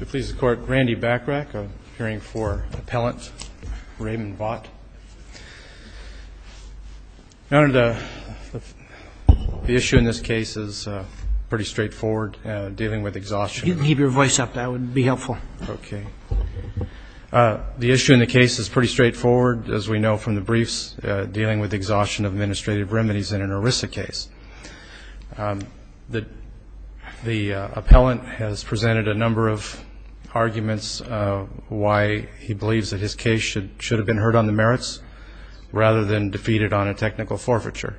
Randy Bachrach, appearing for Appellant Raymond Vaught. Your Honor, the issue in this case is pretty straightforward, dealing with exhaustion. Keep your voice up. That would be helpful. Okay. The issue in the case is pretty straightforward, as we know from the briefs, dealing with exhaustion of administrative remedies in an ERISA case. The appellant has presented a number of arguments why he believes that his case should have been heard on the merits rather than defeated on a technical forfeiture.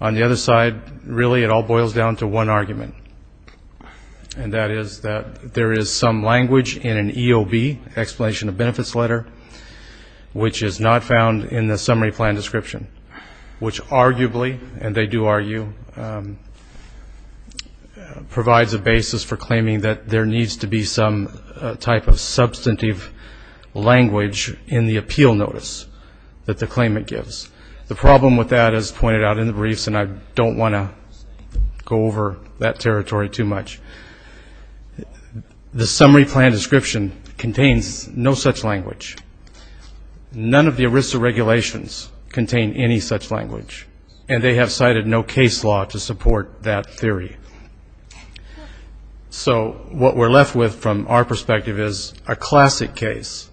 On the other side, really it all boils down to one argument, and that is that there is some language in an EOB, explanation of benefits letter, which is not found in the summary plan description, which arguably, and they do argue, provides a basis for claiming that there needs to be some type of substantive language in the appeal notice that the claimant gives. The problem with that, as pointed out in the briefs, and I don't want to go over that territory too much, the summary plan description contains no such language. None of the ERISA regulations contain any such language, and they have cited no case law to support that theory. So what we're left with from our perspective is a classic case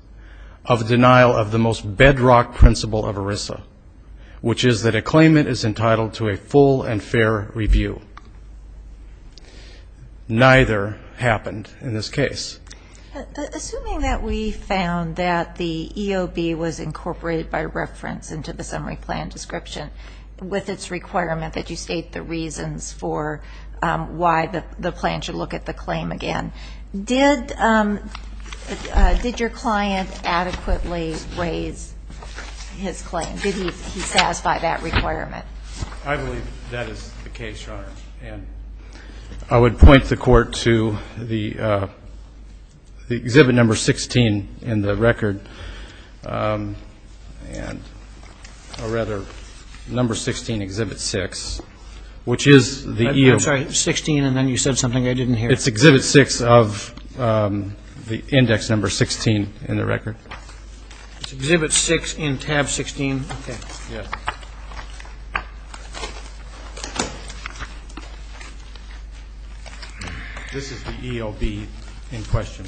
of denial of the most bedrock principle of ERISA, which is that a claimant is entitled to a full and fair review. Neither happened in this case. Assuming that we found that the EOB was incorporated by reference into the summary plan description, with its requirement that you state the reasons for why the plan should look at the claim again, did your client adequately raise his claim? Did he satisfy that requirement? I believe that is the case, Your Honor. And I would point the Court to the exhibit number 16 in the record, or rather, number 16, exhibit 6, which is the EOB. I'm sorry, 16, and then you said something I didn't hear. It's exhibit 6 of the index number 16 in the record. It's exhibit 6 in tab 16. Okay. This is the EOB in question.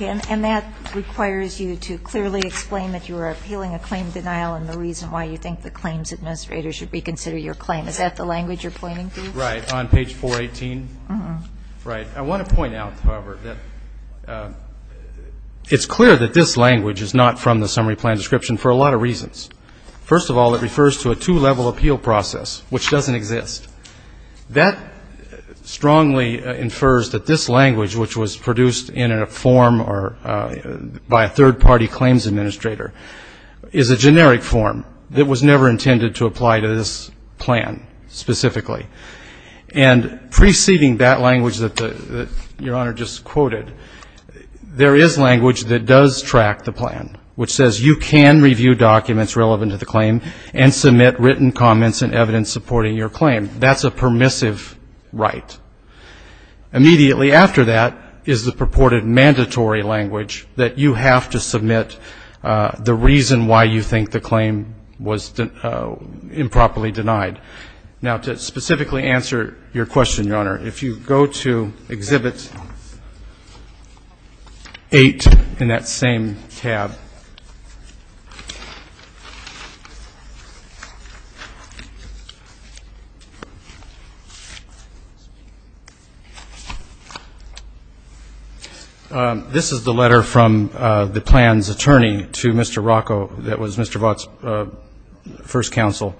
And that requires you to clearly explain that you are appealing a claim denial and the reason why you think the claims administrator should reconsider your claim. Is that the language you're pointing to? Right. On page 418. Right. I want to point out, however, that it's clear that this language is not from the summary plan description for a lot of reasons. First of all, it refers to a two-level application. which doesn't exist. That strongly infers that this language, which was produced in a form or by a third-party claims administrator, is a generic form that was never intended to apply to this plan specifically. And preceding that language that Your Honor just quoted, there is language that does track the plan, which says you can review documents relevant to the claim and submit written comments and evidence supporting your claim. That's a permissive right. Immediately after that is the purported mandatory language that you have to submit the reason why you think the claim was improperly denied. Now, to specifically answer your question, Your Honor, if you go to Exhibit 8 in that same tab, this is the letter from the plan's attorney to Mr. Rocco that was Mr. Vaught's first counsel.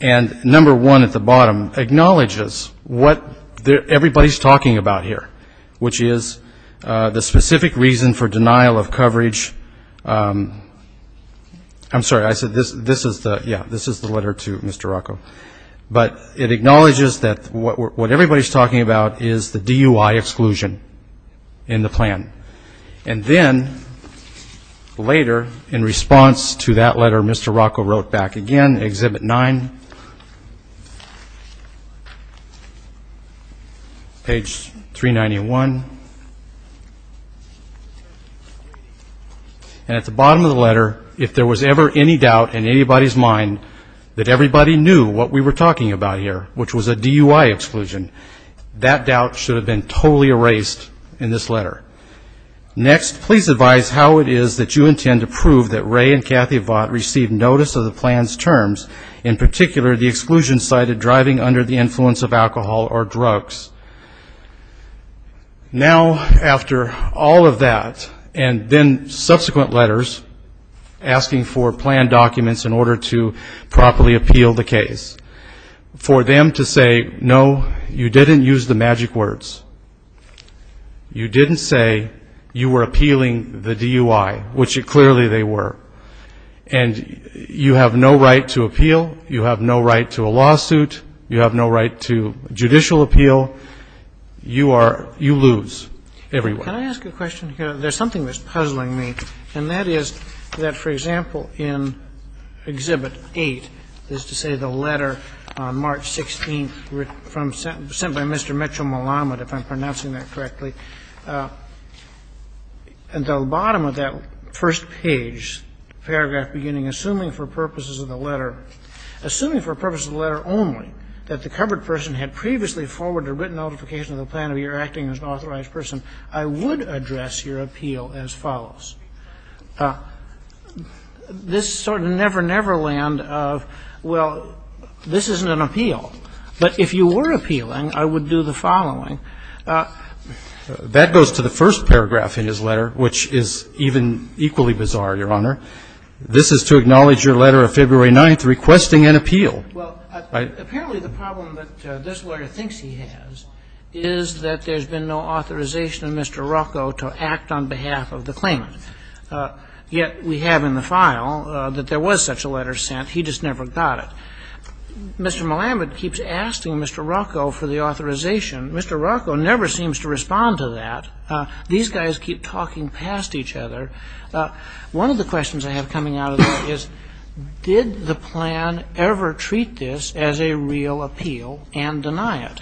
And number one at the bottom acknowledges what everybody's talking about here, which is the specific reason for denial of coverage. I'm sorry, I said this is the letter to Mr. Rocco. But it acknowledges that what everybody's talking about is the DUI exclusion in the plan. And then later in response to that letter, Mr. Rocco wrote back again, Exhibit 9, page 391. And at the bottom of the letter, if there was ever any doubt in anybody's mind that everybody knew what we were talking about here, which was a DUI exclusion, that doubt should have been totally erased in this letter. Next, please advise how it is that you intend to prove that Ray and Kathy Vaught received notice of the plan's terms, in particular the exclusion cited driving under the influence of alcohol or drugs. Now, after all of that, and then subsequent letters asking for plan documents in order to properly appeal the case, for them to say, no, you didn't use the magic words. You didn't say you were appealing the DUI, which clearly they were. And you have no right to appeal. You have no right to a lawsuit. You have no right to judicial appeal. You are you lose everywhere. Can I ask a question here? There's something that's puzzling me, and that is that, for example, in Exhibit 8, that is to say the letter on March 16th from Mr. Mitchell Malamud, if I'm pronouncing that correctly, at the bottom of that first page, paragraph beginning, assuming for purposes of the letter, assuming for purposes of the letter only that the covered person had previously forwarded a written notification of the plan of your acting as an authorized person, I would address your appeal as follows. This sort of never, never land of, well, this isn't an appeal. But if you were appealing, I would do the following. That goes to the first paragraph in his letter, which is even equally bizarre, Your Honor. This is to acknowledge your letter of February 9th requesting an appeal. Well, apparently the problem that this lawyer thinks he has is that there's been no authorization of Mr. Rocco to act on behalf of the claimant. Yet we have in the file that there was such a letter sent. He just never got it. Mr. Malamud keeps asking Mr. Rocco for the authorization. Mr. Rocco never seems to respond to that. These guys keep talking past each other. One of the questions I have coming out of this is did the plan ever treat this as a real appeal and deny it?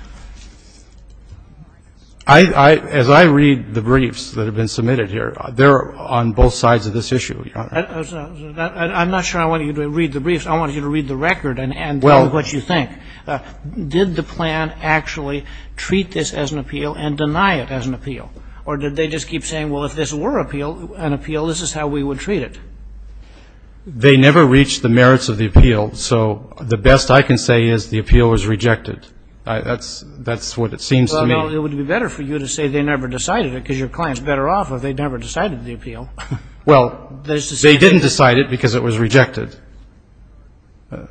As I read the briefs that have been submitted here, they're on both sides of this issue, Your Honor. I'm not sure I want you to read the briefs. I want you to read the record and tell me what you think. Did the plan actually treat this as an appeal and deny it as an appeal? Or did they just keep saying, well, if this were an appeal, this is how we would treat it? They never reached the merits of the appeal. So the best I can say is the appeal was rejected. That's what it seems to me. Well, no, it would be better for you to say they never decided it because your client's better off if they never decided the appeal. Well, they didn't decide it because it was rejected. Well,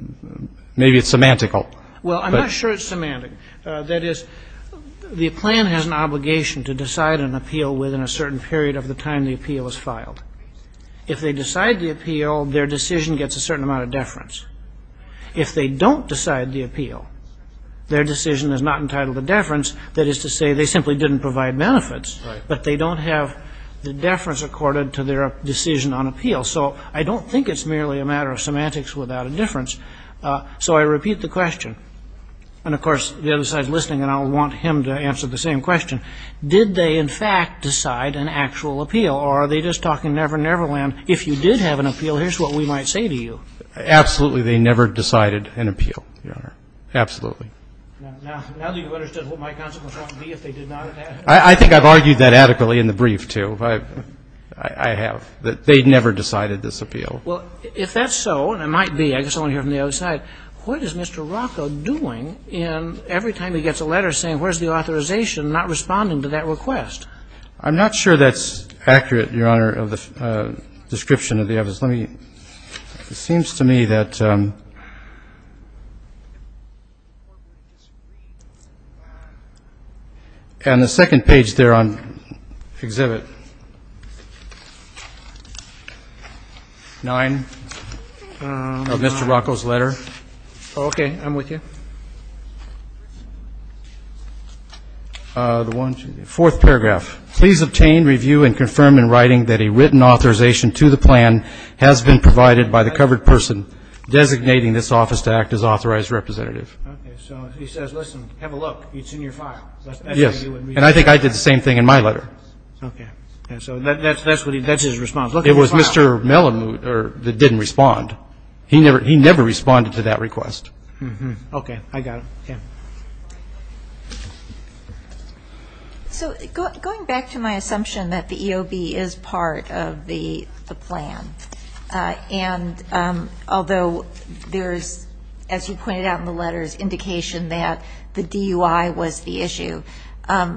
I'm not sure it's semantic. That is, the plan has an obligation to decide an appeal within a certain period of the time the appeal is filed. If they decide the appeal, their decision gets a certain amount of deference. If they don't decide the appeal, their decision is not entitled to deference. That is to say they simply didn't provide benefits, but they don't have the deference accorded to their decision on appeal. So I don't think it's merely a matter of semantics without a difference. So I repeat the question. And, of course, the other side is listening, and I'll want him to answer the same question. Did they, in fact, decide an actual appeal? Or are they just talking never, never land? If you did have an appeal, here's what we might say to you. Absolutely, they never decided an appeal, Your Honor. Absolutely. Now that you've understood what my consequence might be if they did not have an appeal. I think I've argued that adequately in the brief, too. I have. They never decided this appeal. Well, if that's so, and it might be. I guess I want to hear from the other side. What is Mr. Rocco doing every time he gets a letter saying where's the authorization and not responding to that request? I'm not sure that's accurate, Your Honor, of the description of the evidence. Let me see. It seems to me that on the second page there on Exhibit 9 of Mr. Rocco's letter, Okay, I'm with you. The fourth paragraph. Please obtain, review, and confirm in writing that a written authorization to the plan has been provided by the covered person designating this office to act as authorized representative. Okay, so he says, listen, have a look. It's in your file. Yes. And I think I did the same thing in my letter. Okay. So that's his response. It was Mr. Melamut that didn't respond. He never responded to that request. Okay, I got it. So going back to my assumption that the EOB is part of the plan, and although there's, as you pointed out in the letters, indication that the DUI was the issue, Mr.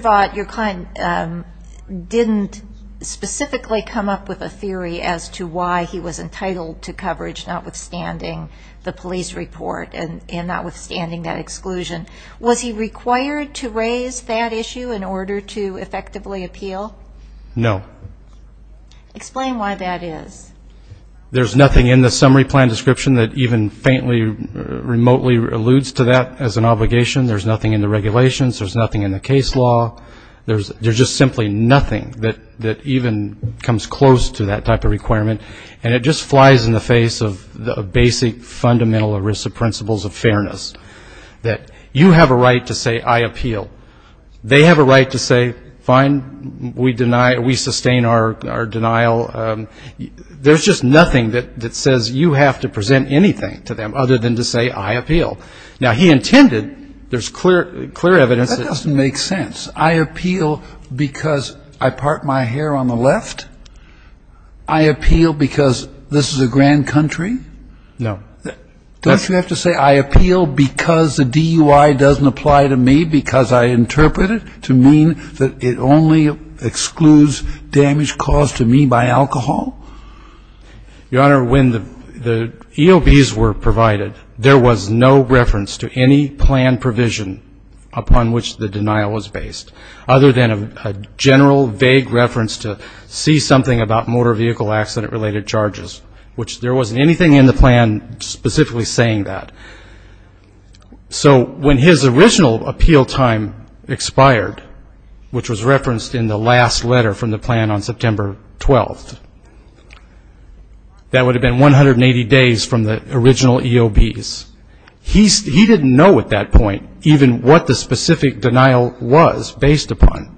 Vaught, your client didn't specifically come up with a theory as to why he was entitled to coverage, notwithstanding the police report and notwithstanding that exclusion. Was he required to raise that issue in order to effectively appeal? No. Explain why that is. There's nothing in the summary plan description that even faintly, remotely alludes to that as an obligation. There's nothing in the regulations. There's nothing in the case law. There's just simply nothing that even comes close to that type of requirement, and it just flies in the face of basic fundamental ERISA principles of fairness, that you have a right to say, I appeal. They have a right to say, fine, we sustain our denial. There's just nothing that says you have to present anything to them other than to say, I appeal. Now, he intended, there's clear evidence that. That doesn't make sense. I appeal because I part my hair on the left? I appeal because this is a grand country? No. Don't you have to say, I appeal because the DUI doesn't apply to me because I interpret it to mean that it only excludes damage caused to me by alcohol? Your Honor, when the EOBs were provided, there was no reference to any plan provision upon which the denial was based, other than a general vague reference to see something about motor vehicle accident-related charges, which there wasn't anything in the plan specifically saying that. So when his original appeal time expired, which was referenced in the last letter from the plan on September 12th, that would have been 180 days from the original EOBs. He didn't know at that point even what the specific denial was based upon.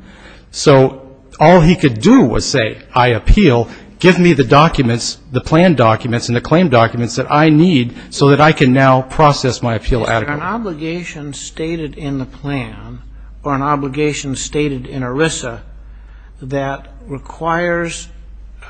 So all he could do was say, I appeal. Give me the documents, the plan documents and the claim documents that I need so that I can now process my appeal adequately. Is there an obligation stated in the plan or an obligation stated in ERISA that requires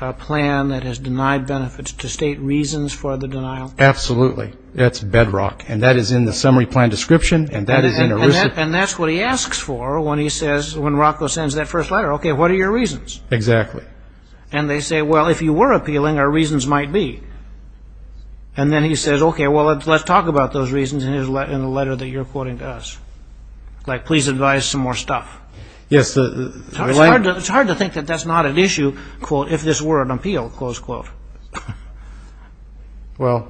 a plan that has denied benefits to state reasons for the denial? Absolutely. That's bedrock. And that is in the summary plan description and that is in ERISA. And that's what he asks for when he says, when Rocco sends that first letter, okay, what are your reasons? Exactly. And they say, well, if you were appealing, our reasons might be. And then he says, okay, well, let's talk about those reasons in the letter that you're quoting to us. Like, please advise some more stuff. Yes. It's hard to think that that's not an issue, quote, if this were an appeal, close quote. Well,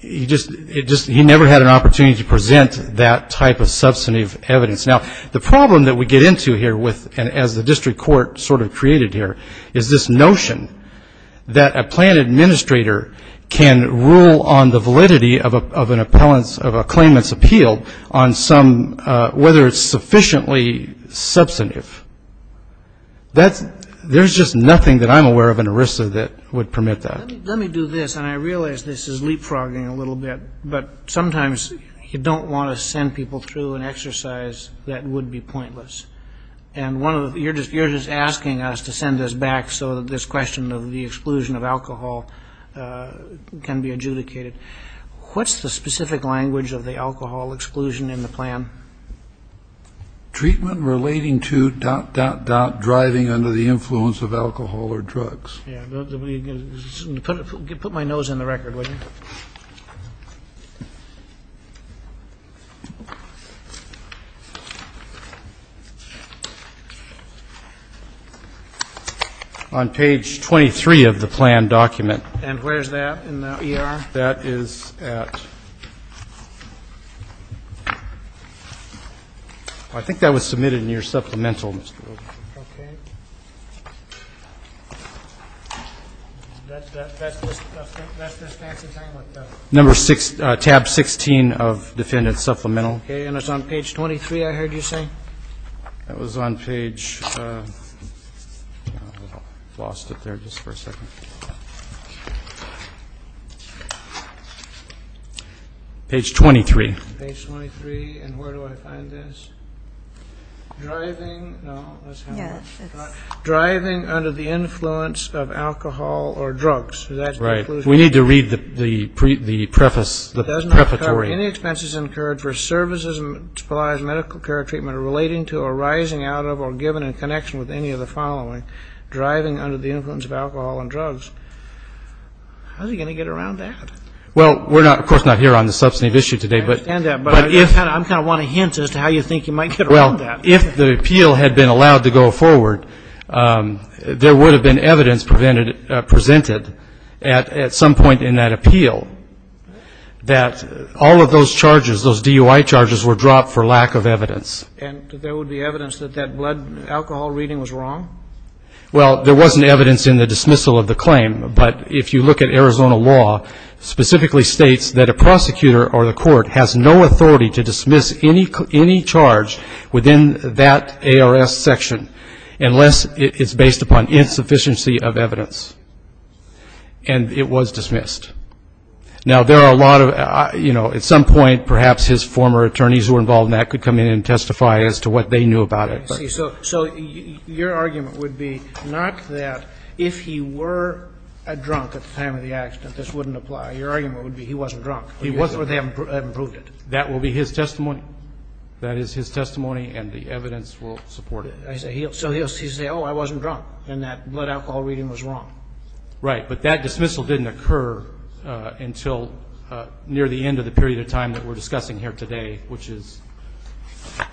he never had an opportunity to present that type of substantive evidence. Now, the problem that we get into here as the district court sort of created here is this notion that a plan administrator can rule on the validity of a claimant's appeal on whether it's sufficiently substantive. There's just nothing that I'm aware of in ERISA that would permit that. Let me do this, and I realize this is leapfrogging a little bit, but sometimes you don't want to send people through an exercise that would be pointless. And you're just asking us to send this back so that this question of the exclusion of alcohol can be adjudicated. What's the specific language of the alcohol exclusion in the plan? Treatment relating to dot, dot, dot, driving under the influence of alcohol or drugs. Yeah. Put my nose in the record, would you? On page 23 of the plan document. And where is that in the ER? That is at ‑‑ I think that was submitted in your supplemental. Okay. That's this fancy thing? Number six, tab 16 of defendant's supplemental. Okay, and it's on page 23, I heard you say? That was on page ‑‑ lost it there just for a second. Page 23. Page 23, and where do I find this? Driving, no, that's not it. Yes, it's ‑‑ Driving under the influence of alcohol or drugs, that's the exclusion. Right. We need to read the preface, the preparatory. It doesn't require any expenses incurred for services and specialized medical care or treatment relating to arising out of or given in connection with any of the following. Driving under the influence of alcohol and drugs. How's he going to get around that? Well, we're not, of course, not here on the substantive issue today, but ‑‑ Well, if the appeal had been allowed to go forward, there would have been evidence presented at some point in that appeal that all of those charges, those DUI charges were dropped for lack of evidence. And there would be evidence that that blood alcohol reading was wrong? Well, there wasn't evidence in the dismissal of the claim, but if you look at Arizona law specifically states that a prosecutor or the court has no authority to dismiss any charge within that ARS section unless it's based upon insufficiency of evidence. And it was dismissed. Now, there are a lot of, you know, at some point perhaps his former attorneys who were involved in that could come in and testify as to what they knew about it. So your argument would be not that if he were a drunk at the time of the accident, this wouldn't apply. Your argument would be he wasn't drunk. He wasn't, but they haven't proved it. That will be his testimony. That is his testimony, and the evidence will support it. So he'll say, oh, I wasn't drunk, and that blood alcohol reading was wrong. Right. But that dismissal didn't occur until near the end of the period of time that we're discussing here today, which is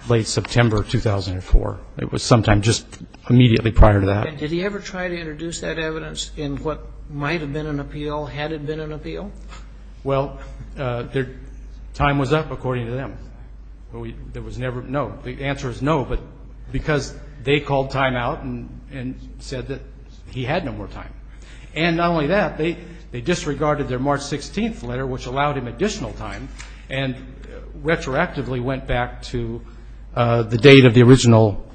late September 2004. It was sometime just immediately prior to that. Did he ever try to introduce that evidence in what might have been an appeal had it been an appeal? Well, their time was up, according to them. There was never no. The answer is no, but because they called time out and said that he had no more time. And not only that, they disregarded their March 16th letter, which allowed him additional time, and retroactively went back to the date of the original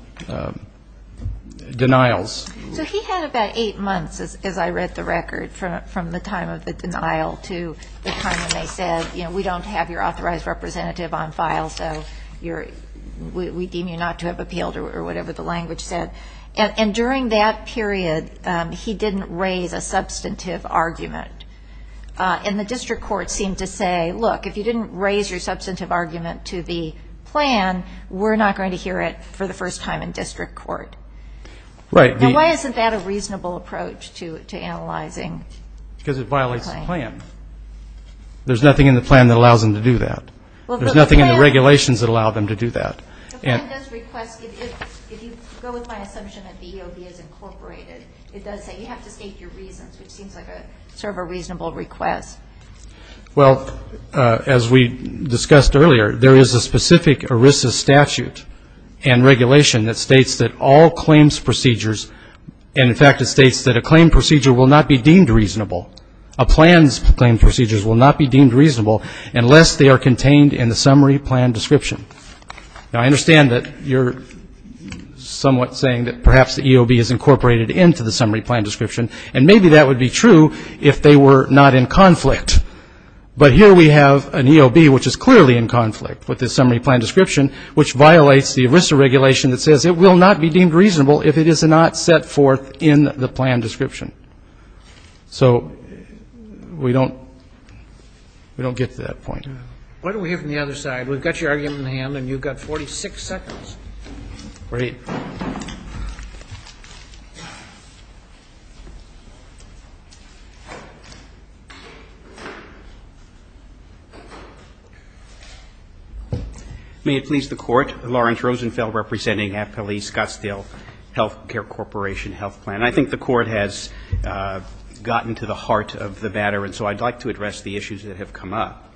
denials. So he had about eight months, as I read the record, from the time of the denial to the time when they said, you know, we don't have your authorized representative on file, so we deem you not to have appealed or whatever the language said. And during that period, he didn't raise a substantive argument. And the district court seemed to say, look, if you didn't raise your substantive argument to the plan, we're not going to hear it for the first time in district court. Now, why isn't that a reasonable approach to analyzing? Because it violates the plan. There's nothing in the plan that allows them to do that. There's nothing in the regulations that allow them to do that. The plan does request, if you go with my assumption that the EOB is incorporated, it does say you have to state your reasons, which seems like sort of a reasonable request. Well, as we discussed earlier, there is a specific ERISA statute and regulation that states that all claims procedures, and, in fact, it states that a claim procedure will not be deemed reasonable, a plan's claim procedures will not be deemed reasonable unless they are contained in the summary plan description. Now, I understand that you're somewhat saying that perhaps the EOB is incorporated into the summary plan description, and maybe that would be true if they were not in conflict. But here we have an EOB which is clearly in conflict with the summary plan description, which violates the ERISA regulation that says it will not be deemed reasonable if it is not set forth in the plan description. So we don't get to that point. Why don't we hear from the other side? We've got your argument in the hand, and you've got 46 seconds. Great. Roberts. May it please the Court. Lawrence Rosenfeld representing Appellees-Gustill Healthcare Corporation Health Plan. I think the Court has gotten to the heart of the matter, and so I'd like to address the issues that have come up.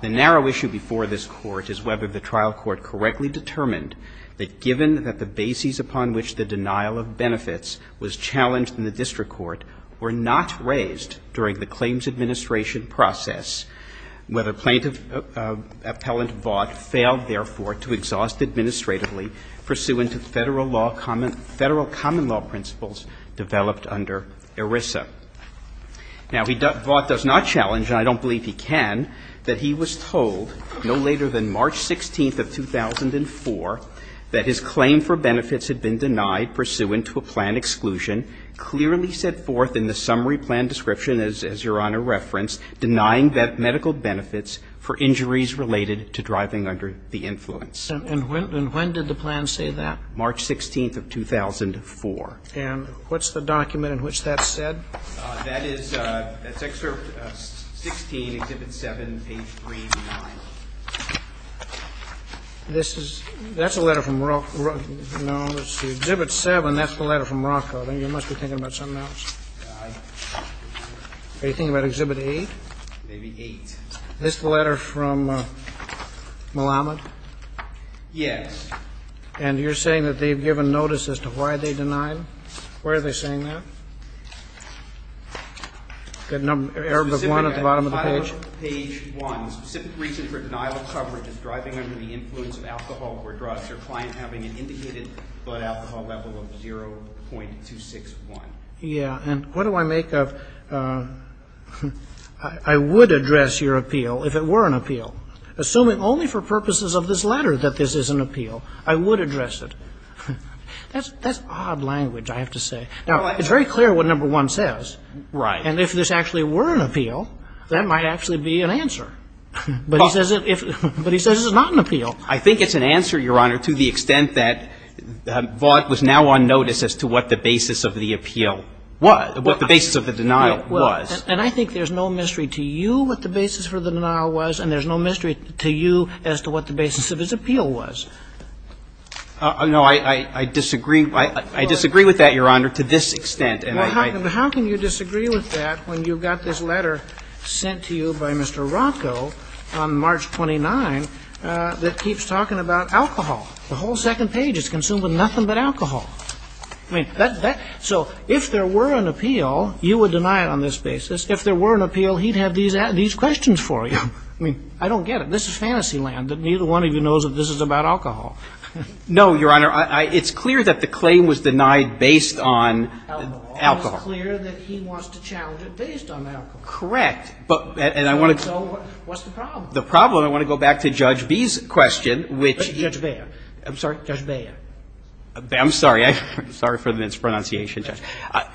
The narrow issue before this Court is whether the trial court correctly determined that given that the bases upon which the denial of benefits was challenged in the district court were not raised during the claims administration process, whether plaintiff appellant Vaught failed, therefore, to exhaust administratively pursuant to Federal law common law principles developed under ERISA. Now, Vaught does not challenge, and I don't believe he can, that he was told no later than March 16th of 2004 that his claim for benefits had been denied pursuant to a plan exclusion clearly set forth in the summary plan description, as Your Honor referenced, denying medical benefits for injuries related to driving under the influence. And when did the plan say that? March 16th of 2004. And what's the document in which that's said? That is, that's Excerpt 16, Exhibit 7, page 3-9. This is, that's a letter from Rothko. No, let's see. Exhibit 7, that's the letter from Rothko. Then you must be thinking about something else. Aye. Are you thinking about Exhibit 8? Maybe 8. Is this the letter from Malamud? Yes. And you're saying that they've given notice as to why they denied him? Why are they saying that? The number, Arabic 1 at the bottom of the page. Page 1, specific reason for denial of coverage is driving under the influence of alcohol or drugs or client having an indicated blood alcohol level of 0.261. Yeah. And what do I make of, I would address your appeal if it were an appeal, assuming only for purposes of this letter that this is an appeal. I would address it. That's odd language, I have to say. Now, it's very clear what number 1 says. Right. And if this actually were an appeal, that might actually be an answer. But he says it's not an appeal. I think it's an answer, Your Honor, to the extent that Vaught was now on notice as to what the basis of the appeal was, what the basis of the denial was. And I think there's no mystery to you what the basis for the denial was, and there's no mystery to you as to what the basis of his appeal was. No, I disagree. I disagree with that, Your Honor, to this extent. How can you disagree with that when you've got this letter sent to you by Mr. Ronco on March 29 that keeps talking about alcohol? The whole second page is consumed with nothing but alcohol. I mean, that's so if there were an appeal, you would deny it on this basis. If there were an appeal, he'd have these questions for you. I mean, I don't get it. This is fantasy land. Neither one of you knows that this is about alcohol. No, Your Honor. It's clear that the claim was denied based on alcohol. It's clear that he wants to challenge it based on alcohol. Correct. And I want to go back to Judge B's question, which he. Judge Beyer. I'm sorry? Judge Beyer. I'm sorry. I'm sorry for the mispronunciation, Judge. I'm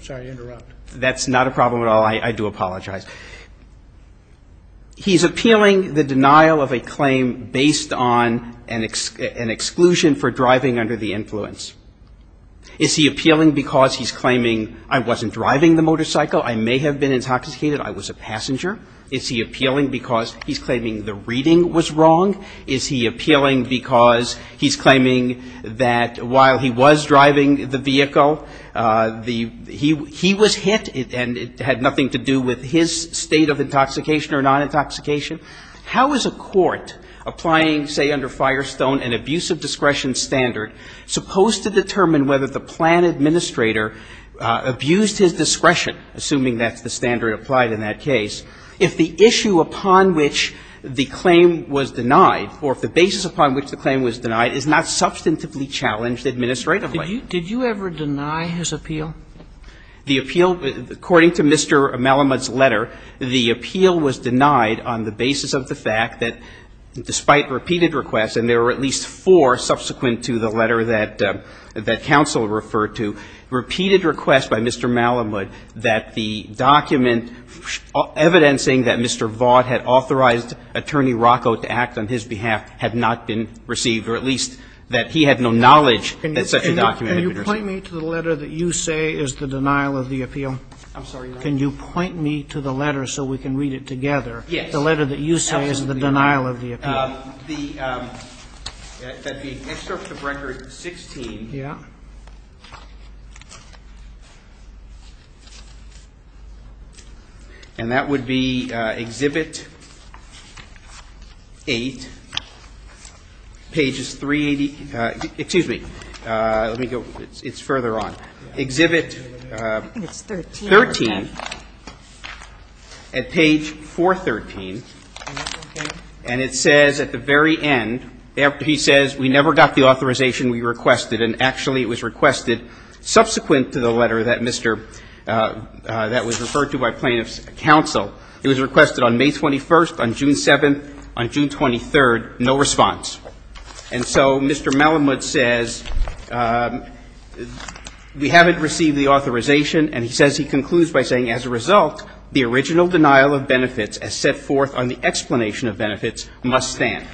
sorry to interrupt. That's not a problem at all. I do apologize. He's appealing the denial of a claim based on an exclusion for driving under the influence. Is he appealing because he's claiming I wasn't driving the motorcycle? I may have been intoxicated. I was a passenger. Is he appealing because he's claiming the reading was wrong? Is he appealing because he's claiming that while he was driving the vehicle, he was hit and it had nothing to do with his state of intoxication or non-intoxication? How is a court applying, say, under Firestone, an abuse of discretion standard, supposed to determine whether the plan administrator abused his discretion, assuming that's the standard applied in that case, if the issue upon which the claim was denied or if the basis upon which the claim was denied is not substantively challenged administratively? Did you ever deny his appeal? The appeal, according to Mr. Malamud's letter, the appeal was denied on the basis of the fact that despite repeated requests, and there were at least four subsequent to the letter that counsel referred to, repeated requests by Mr. Malamud that the document evidencing that Mr. Vaught had authorized Attorney Rocco to act on his behalf had not been received, or at least that he had no knowledge that such a document had been received. Can you point me to the letter that you say is the denial of the appeal? I'm sorry, Your Honor. Can you point me to the letter so we can read it together? Yes. The excerpt of Record 16. Yeah. And that would be Exhibit 8, pages 380. Excuse me. Let me go. It's further on. Exhibit 13 at page 413. And it says at the very end, he says, we never got the authorization we requested, and actually it was requested subsequent to the letter that Mr. — that was referred to by plaintiff's counsel. It was requested on May 21st, on June 7th, on June 23rd, no response. And so Mr. Malamud says, we haven't received the authorization, and he says he concludes by saying, as a result, the original denial of benefits as set forth on the explanation of benefits must stand.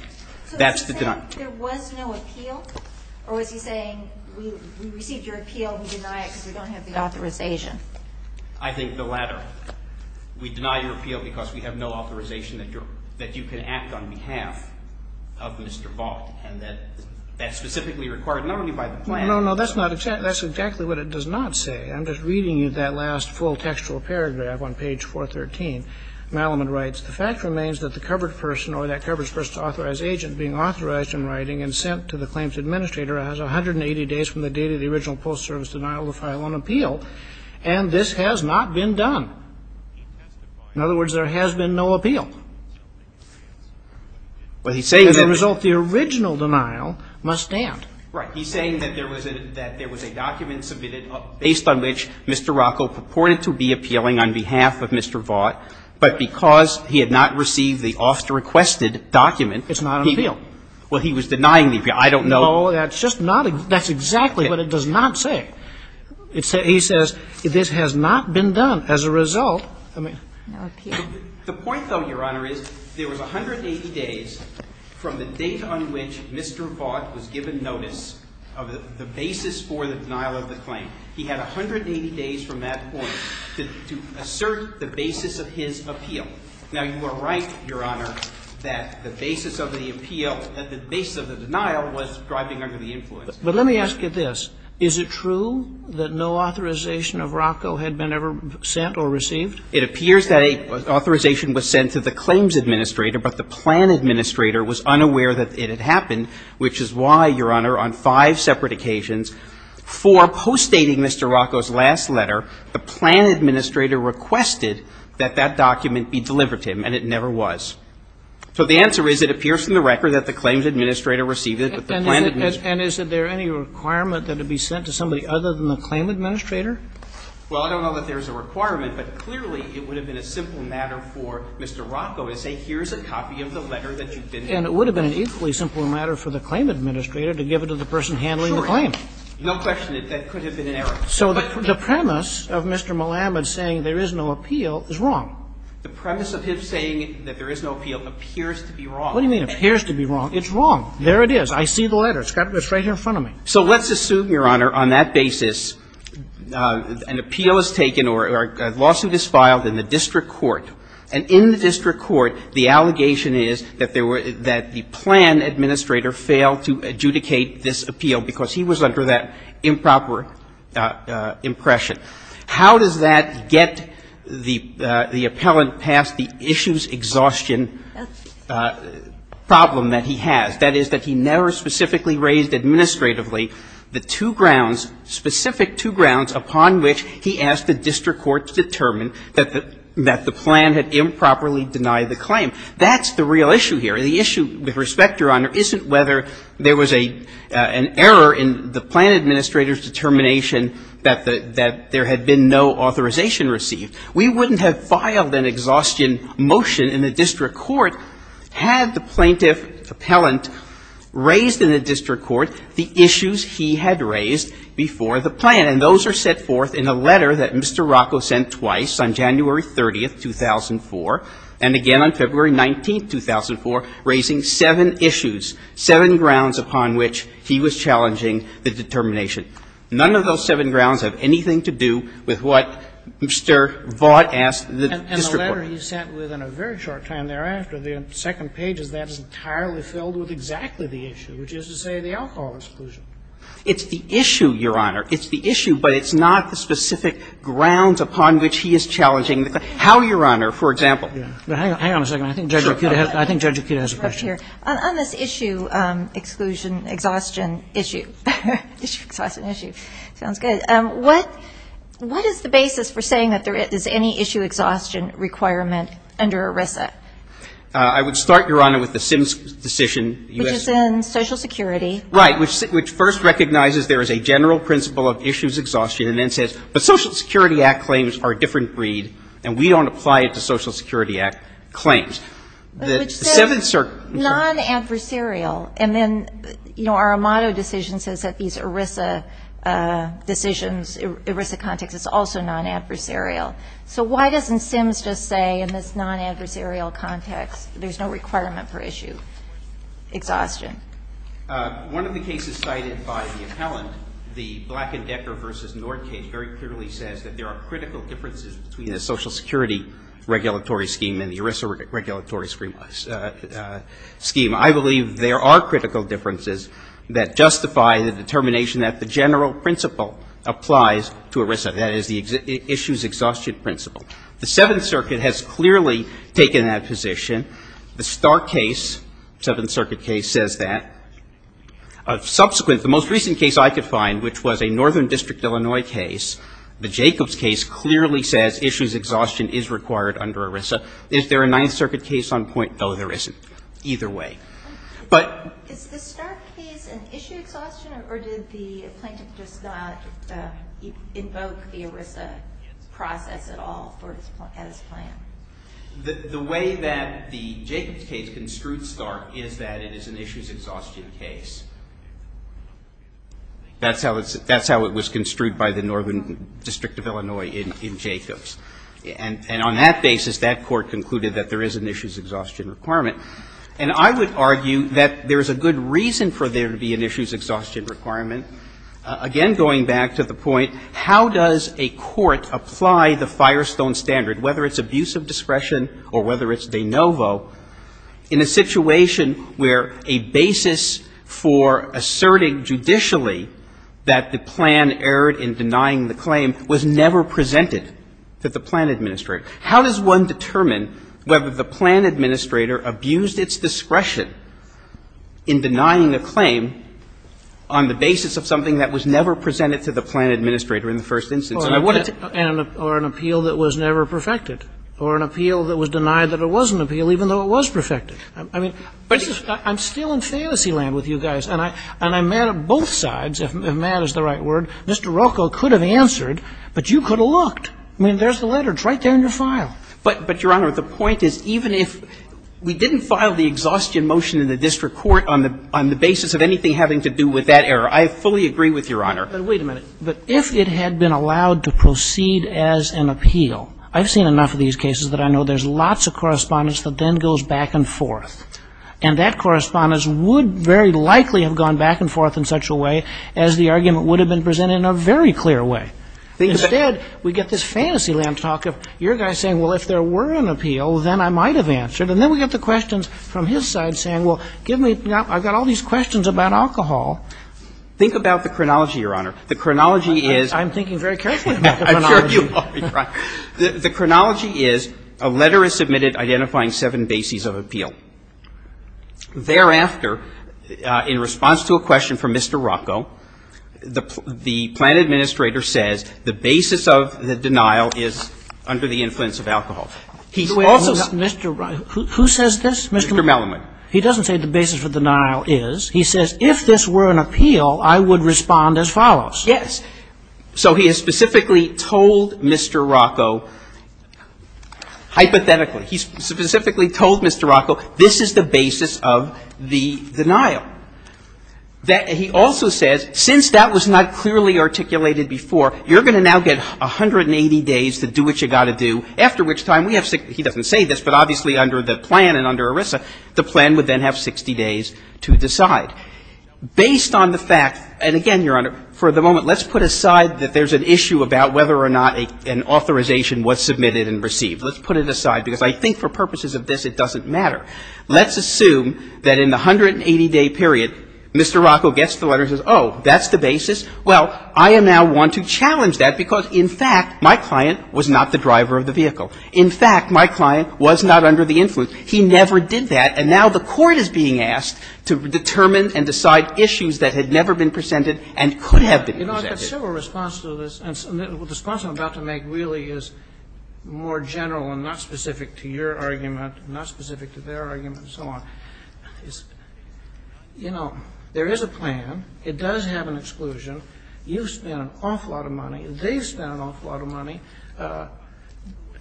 That's the denial. So is he saying there was no appeal, or is he saying we received your appeal, we deny it because we don't have the authorization? I think the latter. We deny your appeal because we have no authorization that you can act on behalf of Mr. Vaught, and that that's specifically required not only by the plaintiff. No, no. That's not — that's exactly what it does not say. I'm just reading you that last full textual paragraph on page 413. Malamud writes, The fact remains that the covered person or that covered person's authorized agent being authorized in writing and sent to the claims administrator has 180 days from the date of the original post-service denial to file an appeal, and this has not been done. In other words, there has been no appeal. But he's saying that — As a result, the original denial must stand. Right. He's saying that there was a — that there was a document submitted based on which Mr. Rocco purported to be appealing on behalf of Mr. Vaught, but because he had not received the officer-requested document, he — It's not an appeal. Well, he was denying the appeal. I don't know — No, that's just not — that's exactly what it does not say. It says — he says this has not been done. As a result, I mean — No appeal. The point, though, Your Honor, is there was 180 days from the date on which Mr. Vaught was given notice of the basis for the denial of the claim. He had 180 days from that point to assert the basis of his appeal. Now, you are right, Your Honor, that the basis of the appeal — the basis of the denial was driving under the influence. But let me ask you this. Is it true that no authorization of Rocco had been ever sent or received? It appears that an authorization was sent to the claims administrator, but the plan administrator was unaware that it had happened, which is why, Your Honor, on five separate occasions, for postdating Mr. Rocco's last letter, the plan administrator requested that that document be delivered to him, and it never was. So the answer is it appears from the record that the claims administrator received it, but the plan administrator — And is there any requirement that it be sent to somebody other than the claim administrator? Well, I don't know that there is a requirement, but clearly it would have been a simple matter for Mr. Rocco to say, here's a copy of the letter that you've been — And it would have been an equally simple matter for the claim administrator to give it to the person handling the claim. Sure. No question. That could have been an error. So the premise of Mr. Malamud saying there is no appeal is wrong. The premise of him saying that there is no appeal appears to be wrong. What do you mean, appears to be wrong? It's wrong. There it is. I see the letter. It's right here in front of me. So let's assume, Your Honor, on that basis, an appeal is taken or a lawsuit is filed in the district court. And in the district court, the allegation is that the plan administrator failed to adjudicate this appeal because he was under that improper impression. How does that get the appellant past the issues exhaustion problem that he has, that is, that he never specifically raised administratively the two grounds, specific two grounds upon which he asked the district court to determine that the plan had improperly denied the claim? That's the real issue here. The issue, with respect, Your Honor, isn't whether there was an error in the plan administrator's determination that there had been no authorization received. We wouldn't have filed an exhaustion motion in the district court had the plaintiff appellant raised in the district court the issues he had raised before the plan. And those are set forth in a letter that Mr. Rocco sent twice, on January 30, 2004, and again on February 19, 2004, raising seven issues, seven grounds upon which he was challenging the determination. None of those seven grounds have anything to do with what Mr. Vaught asked the district court. And the letter he sent within a very short time thereafter, the second page, is that it's entirely filled with exactly the issue, which is to say the alcohol exclusion. It's the issue, Your Honor. It's the issue, but it's not the specific grounds upon which he is challenging the claim. How, Your Honor, for example? Hang on a second. I think Judge Akita has a question. On this issue, exclusion, exhaustion issue, exhaustion issue, sounds good. What is the basis for saying that there is any issue exhaustion requirement under ERISA? I would start, Your Honor, with the Sims decision. Which is in Social Security. Right, which first recognizes there is a general principle of issues exhaustion and then says, but Social Security Act claims are a different breed and we don't apply it to Social Security Act claims. Which says non-adversarial. And then, you know, our Amado decision says that these ERISA decisions, ERISA context is also non-adversarial. So why doesn't Sims just say in this non-adversarial context there is no requirement for issue exhaustion? One of the cases cited by the appellant, the Black & Decker v. Northgate, very clearly says that there are critical differences between the Social Security regulatory scheme and the ERISA regulatory scheme. I believe there are critical differences that justify the determination that the general principle applies to ERISA. That is the issues exhaustion principle. The Seventh Circuit has clearly taken that position. The Starr case, Seventh Circuit case, says that. Subsequent, the most recent case I could find, which was a Northern District, Illinois case, the Jacobs case clearly says issues exhaustion is required under ERISA. Is there a Ninth Circuit case on point? No, there isn't. Either way. But. Is the Starr case an issue exhaustion or did the plaintiff just not invoke the ERISA process at all as planned? The way that the Jacobs case construed Starr is that it is an issues exhaustion case. That's how it was construed by the Northern District of Illinois in Jacobs. And on that basis, that court concluded that there is an issues exhaustion requirement. And I would argue that there is a good reason for there to be an issues exhaustion requirement. Again, going back to the point, how does a court apply the Firestone standard, whether it's abuse of discretion or whether it's de novo, in a situation where a basis for asserting judicially that the plan erred in denying the claim was never presented to the plan administrator? How does one determine whether the plan administrator abused its discretion in denying the claim on the basis of something that was never presented to the plan administrator in the first instance? Or an appeal that was never perfected. Or an appeal that was denied that it was an appeal even though it was perfected. I mean, I'm still in fantasy land with you guys. And I'm mad at both sides, if mad is the right word. Mr. Rocco could have answered, but you could have looked. I mean, there's the letter. It's right there in your file. But, Your Honor, the point is, even if we didn't file the exhaustion motion in the district court on the basis of anything having to do with that error, I fully agree with Your Honor. But wait a minute. If it had been allowed to proceed as an appeal, I've seen enough of these cases that I know there's lots of correspondence that then goes back and forth. And that correspondence would very likely have gone back and forth in such a way as the argument would have been presented in a very clear way. Instead, we get this fantasy land talk of your guys saying, well, if there were an appeal, then I might have answered. And then we get the questions from his side saying, well, give me ñ I've got all these questions about alcohol. Think about the chronology, Your Honor. The chronology is ñ I'm thinking very carefully about the chronology. I'm sure you are. The chronology is a letter is submitted identifying seven bases of appeal. Thereafter, in response to a question from Mr. Rocco, the plant administrator says the basis of the denial is under the influence of alcohol. He's also ñ Wait. Mr. Rocco. Who says this? Mr. Mellonman. He doesn't say the basis for denial is. He says if this were an appeal, I would respond as follows. So he has specifically told Mr. Rocco, hypothetically. He's specifically told Mr. Rocco this is the basis of the denial. He also says since that was not clearly articulated before, you're going to now get 180 days to do what you've got to do, after which time we have ñ he doesn't say this, but obviously under the plan and under ERISA, the plan would then have 60 days to decide. Based on the fact ñ and again, Your Honor, for the moment, let's put aside that there's an issue about whether or not an authorization was submitted and received. Let's put it aside, because I think for purposes of this, it doesn't matter. Let's assume that in the 180-day period, Mr. Rocco gets the letter and says, oh, that's the basis. Well, I am now one to challenge that because, in fact, my client was not the driver of the vehicle. In fact, my client was not under the influence. He never did that. And now the Court is being asked to determine and decide issues that had never been presented and could have been presented. You know, I've had several responses to this. And the response I'm about to make really is more general and not specific to your argument, not specific to their argument, and so on. You know, there is a plan. It does have an exclusion. You've spent an awful lot of money. They've spent an awful lot of money.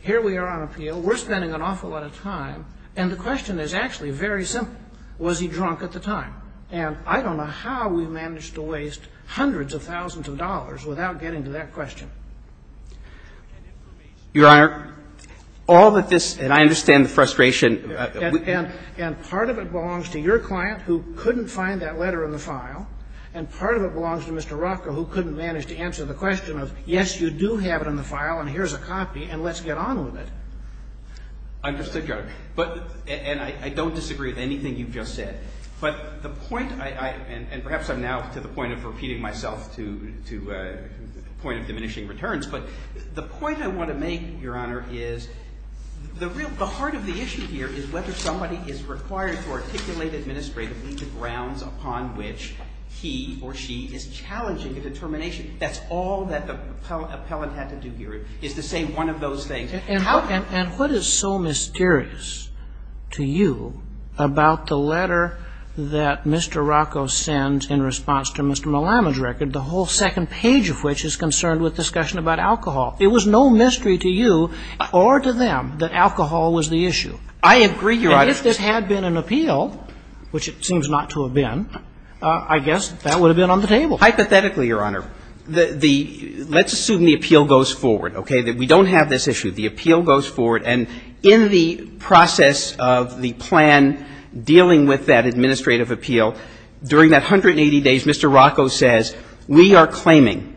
Here we are on appeal. We're spending an awful lot of time. And the question is actually very simple. Was he drunk at the time? And I don't know how we managed to waste hundreds of thousands of dollars without getting to that question. Your Honor, all that this, and I understand the frustration. And part of it belongs to your client, who couldn't find that letter in the file. And part of it belongs to Mr. Rocco, who couldn't manage to answer the question of, yes, you do have it in the file, and here's a copy, and let's get on with it. Understood, Your Honor. But, and I don't disagree with anything you've just said. But the point I, and perhaps I'm now to the point of repeating myself to the point of diminishing returns, but the point I want to make, Your Honor, is the real, the heart of the issue here is whether somebody is required to articulate administratively the grounds upon which he or she is challenging a determination. That's all that the appellant had to do here is to say one of those things. And what is so mysterious to you about the letter that Mr. Rocco sends in response to Mr. Malama's record, the whole second page of which is concerned with discussion about alcohol? It was no mystery to you or to them that alcohol was the issue. I agree, Your Honor. And if this had been an appeal, which it seems not to have been, I guess that would have been on the table. Hypothetically, Your Honor, the, let's assume the appeal goes forward, okay, that we don't have this issue. The appeal goes forward. And in the process of the plan dealing with that administrative appeal, during that 180 days, Mr. Rocco says, we are claiming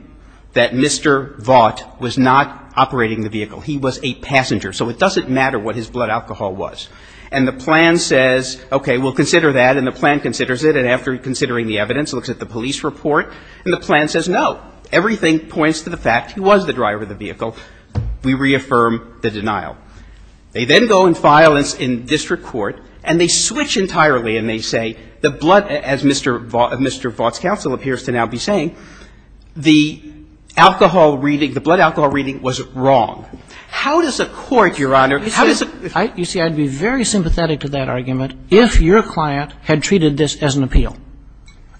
that Mr. Vaught was not operating the vehicle. He was a passenger. So it doesn't matter what his blood alcohol was. And the plan says, okay, we'll consider that. And the plan considers it. And after considering the evidence, looks at the police report, and the plan says Everything points to the fact he was the driver of the vehicle. We reaffirm the denial. They then go and file this in district court, and they switch entirely, and they say the blood, as Mr. Vaught's counsel appears to now be saying, the alcohol reading, the blood alcohol reading was wrong. How does a court, Your Honor, how does a court? You see, I would be very sympathetic to that argument if your client had treated this as an appeal.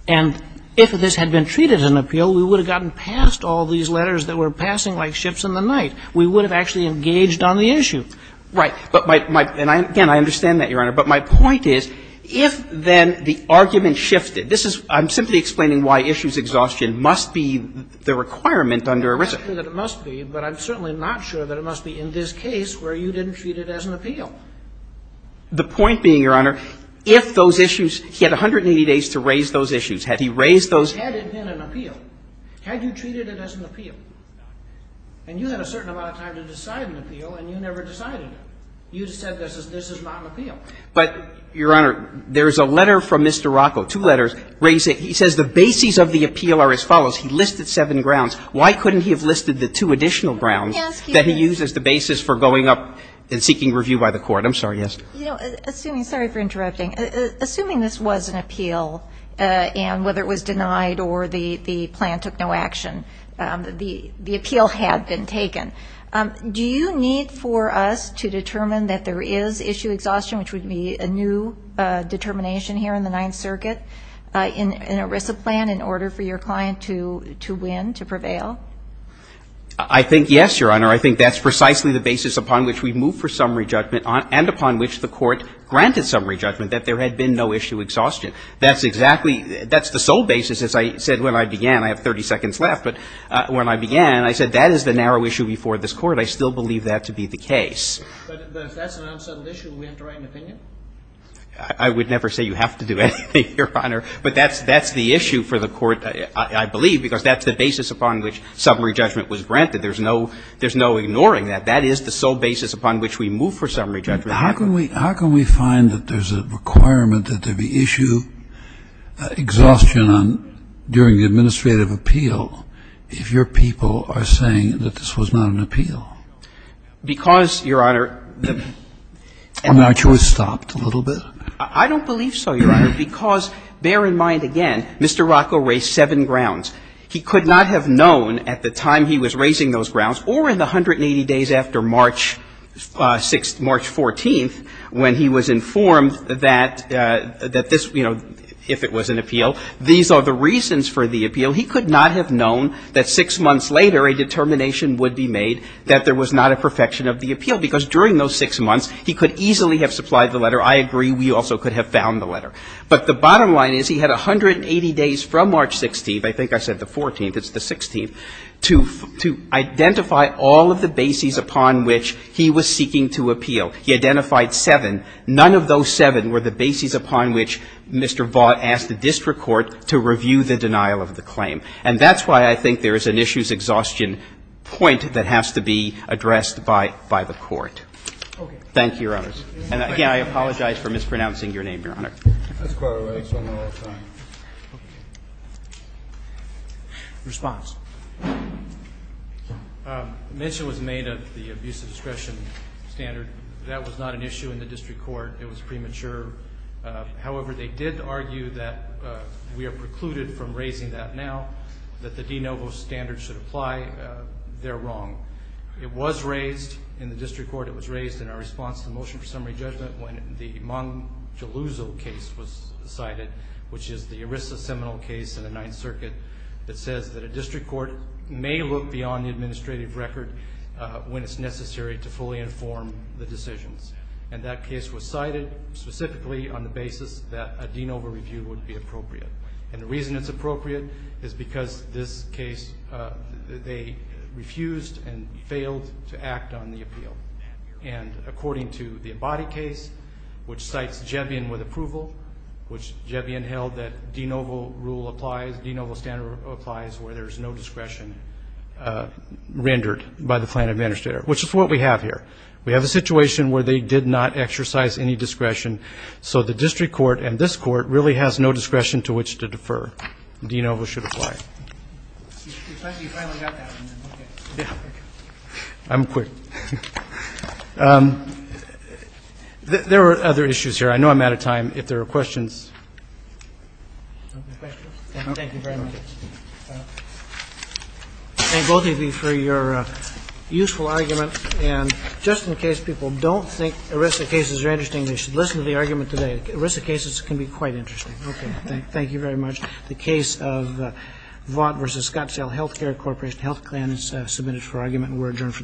And if this had been treated as an appeal, we would have gotten past all these letters that were passing like ships in the night. We would have actually engaged on the issue. Right. But my – and, again, I understand that, Your Honor. But my point is, if then the argument shifted, this is – I'm simply explaining why issues exhaustion must be the requirement under ERISA. I'm not saying that it must be, but I'm certainly not sure that it must be in this case where you didn't treat it as an appeal. The point being, Your Honor, if those issues – he had 180 days to raise those issues. Had he raised those – Had it been an appeal. Had you treated it as an appeal. And you had a certain amount of time to decide an appeal, and you never decided it. You said this is not an appeal. But, Your Honor, there is a letter from Mr. Rocco, two letters, where he says the bases of the appeal are as follows. He listed seven grounds. Why couldn't he have listed the two additional grounds that he used as the basis for going up and seeking review by the court? I'm sorry, yes. You know, assuming – sorry for interrupting. Assuming this was an appeal, and whether it was denied or the plan took no action, the appeal had been taken. Do you need for us to determine that there is issue exhaustion, which would be a new determination here in the Ninth Circuit, in an ERISA plan in order for your client to win, to prevail? I think, yes, Your Honor. I think that's precisely the basis upon which we move for summary judgment and upon which the court granted summary judgment, that there had been no issue exhaustion. That's exactly – that's the sole basis, as I said when I began. I have 30 seconds left. But when I began, I said that is the narrow issue before this Court. I still believe that to be the case. But if that's an unsettled issue, will we have to write an opinion? I would never say you have to do anything, Your Honor. But that's the issue for the Court, I believe, because that's the basis upon which summary judgment was granted. There's no ignoring that. That is the sole basis upon which we move for summary judgment. How can we – how can we find that there's a requirement that there be issue – exhaustion on – during the administrative appeal if your people are saying that this was not an appeal? Because, Your Honor, the – I mean, aren't you a little bit stopped a little bit? I don't believe so, Your Honor, because bear in mind, again, Mr. Rotko raised seven grounds. He could not have known at the time he was raising those grounds or in the 180 days after March 6th, March 14th, when he was informed that this – you know, if it was an appeal, these are the reasons for the appeal. He could not have known that six months later a determination would be made that there was not a perfection of the appeal. Because during those six months, he could easily have supplied the letter. I agree we also could have found the letter. But the bottom line is he had 180 days from March 16th – I think I said the 14th, I think it's the 16th – to identify all of the bases upon which he was seeking to appeal. He identified seven. None of those seven were the bases upon which Mr. Vaught asked the district court to review the denial of the claim. And that's why I think there is an issues exhaustion point that has to be addressed by the court. Thank you, Your Honors. And, again, I apologize for mispronouncing your name, Your Honor. That's quite all right. It's been a long time. Response. The mention was made of the abuse of discretion standard. That was not an issue in the district court. It was premature. However, they did argue that we are precluded from raising that now, that the de novo standard should apply. They're wrong. It was raised in the district court. It was raised in our response to the motion for summary judgment when the Mon Jalouzo case was cited, which is the ERISA seminal case in the Ninth Circuit that says that a district court may look beyond the administrative record when it's necessary to fully inform the decisions. And that case was cited specifically on the basis that a de novo review would be appropriate. And the reason it's appropriate is because this case – they refused and failed to act on the appeal. And according to the Abadi case, which cites Jevion with approval, which Jevion held that de novo rule applies, de novo standard applies where there's no discretion rendered by the plaintiff administrator, which is what we have here. We have a situation where they did not exercise any discretion, so the district court and this court really has no discretion to which to defer. De novo should apply. You finally got that. I'm quick. There were other issues here. I know I'm out of time. If there are questions. Thank you very much. Thank both of you for your useful argument. And just in case people don't think ERISA cases are interesting, they should listen to the argument today. ERISA cases can be quite interesting. Thank you very much. The case of Vaught v. Scottsdale Healthcare Corporation Health Client is submitted for argument and we're adjourned for the day.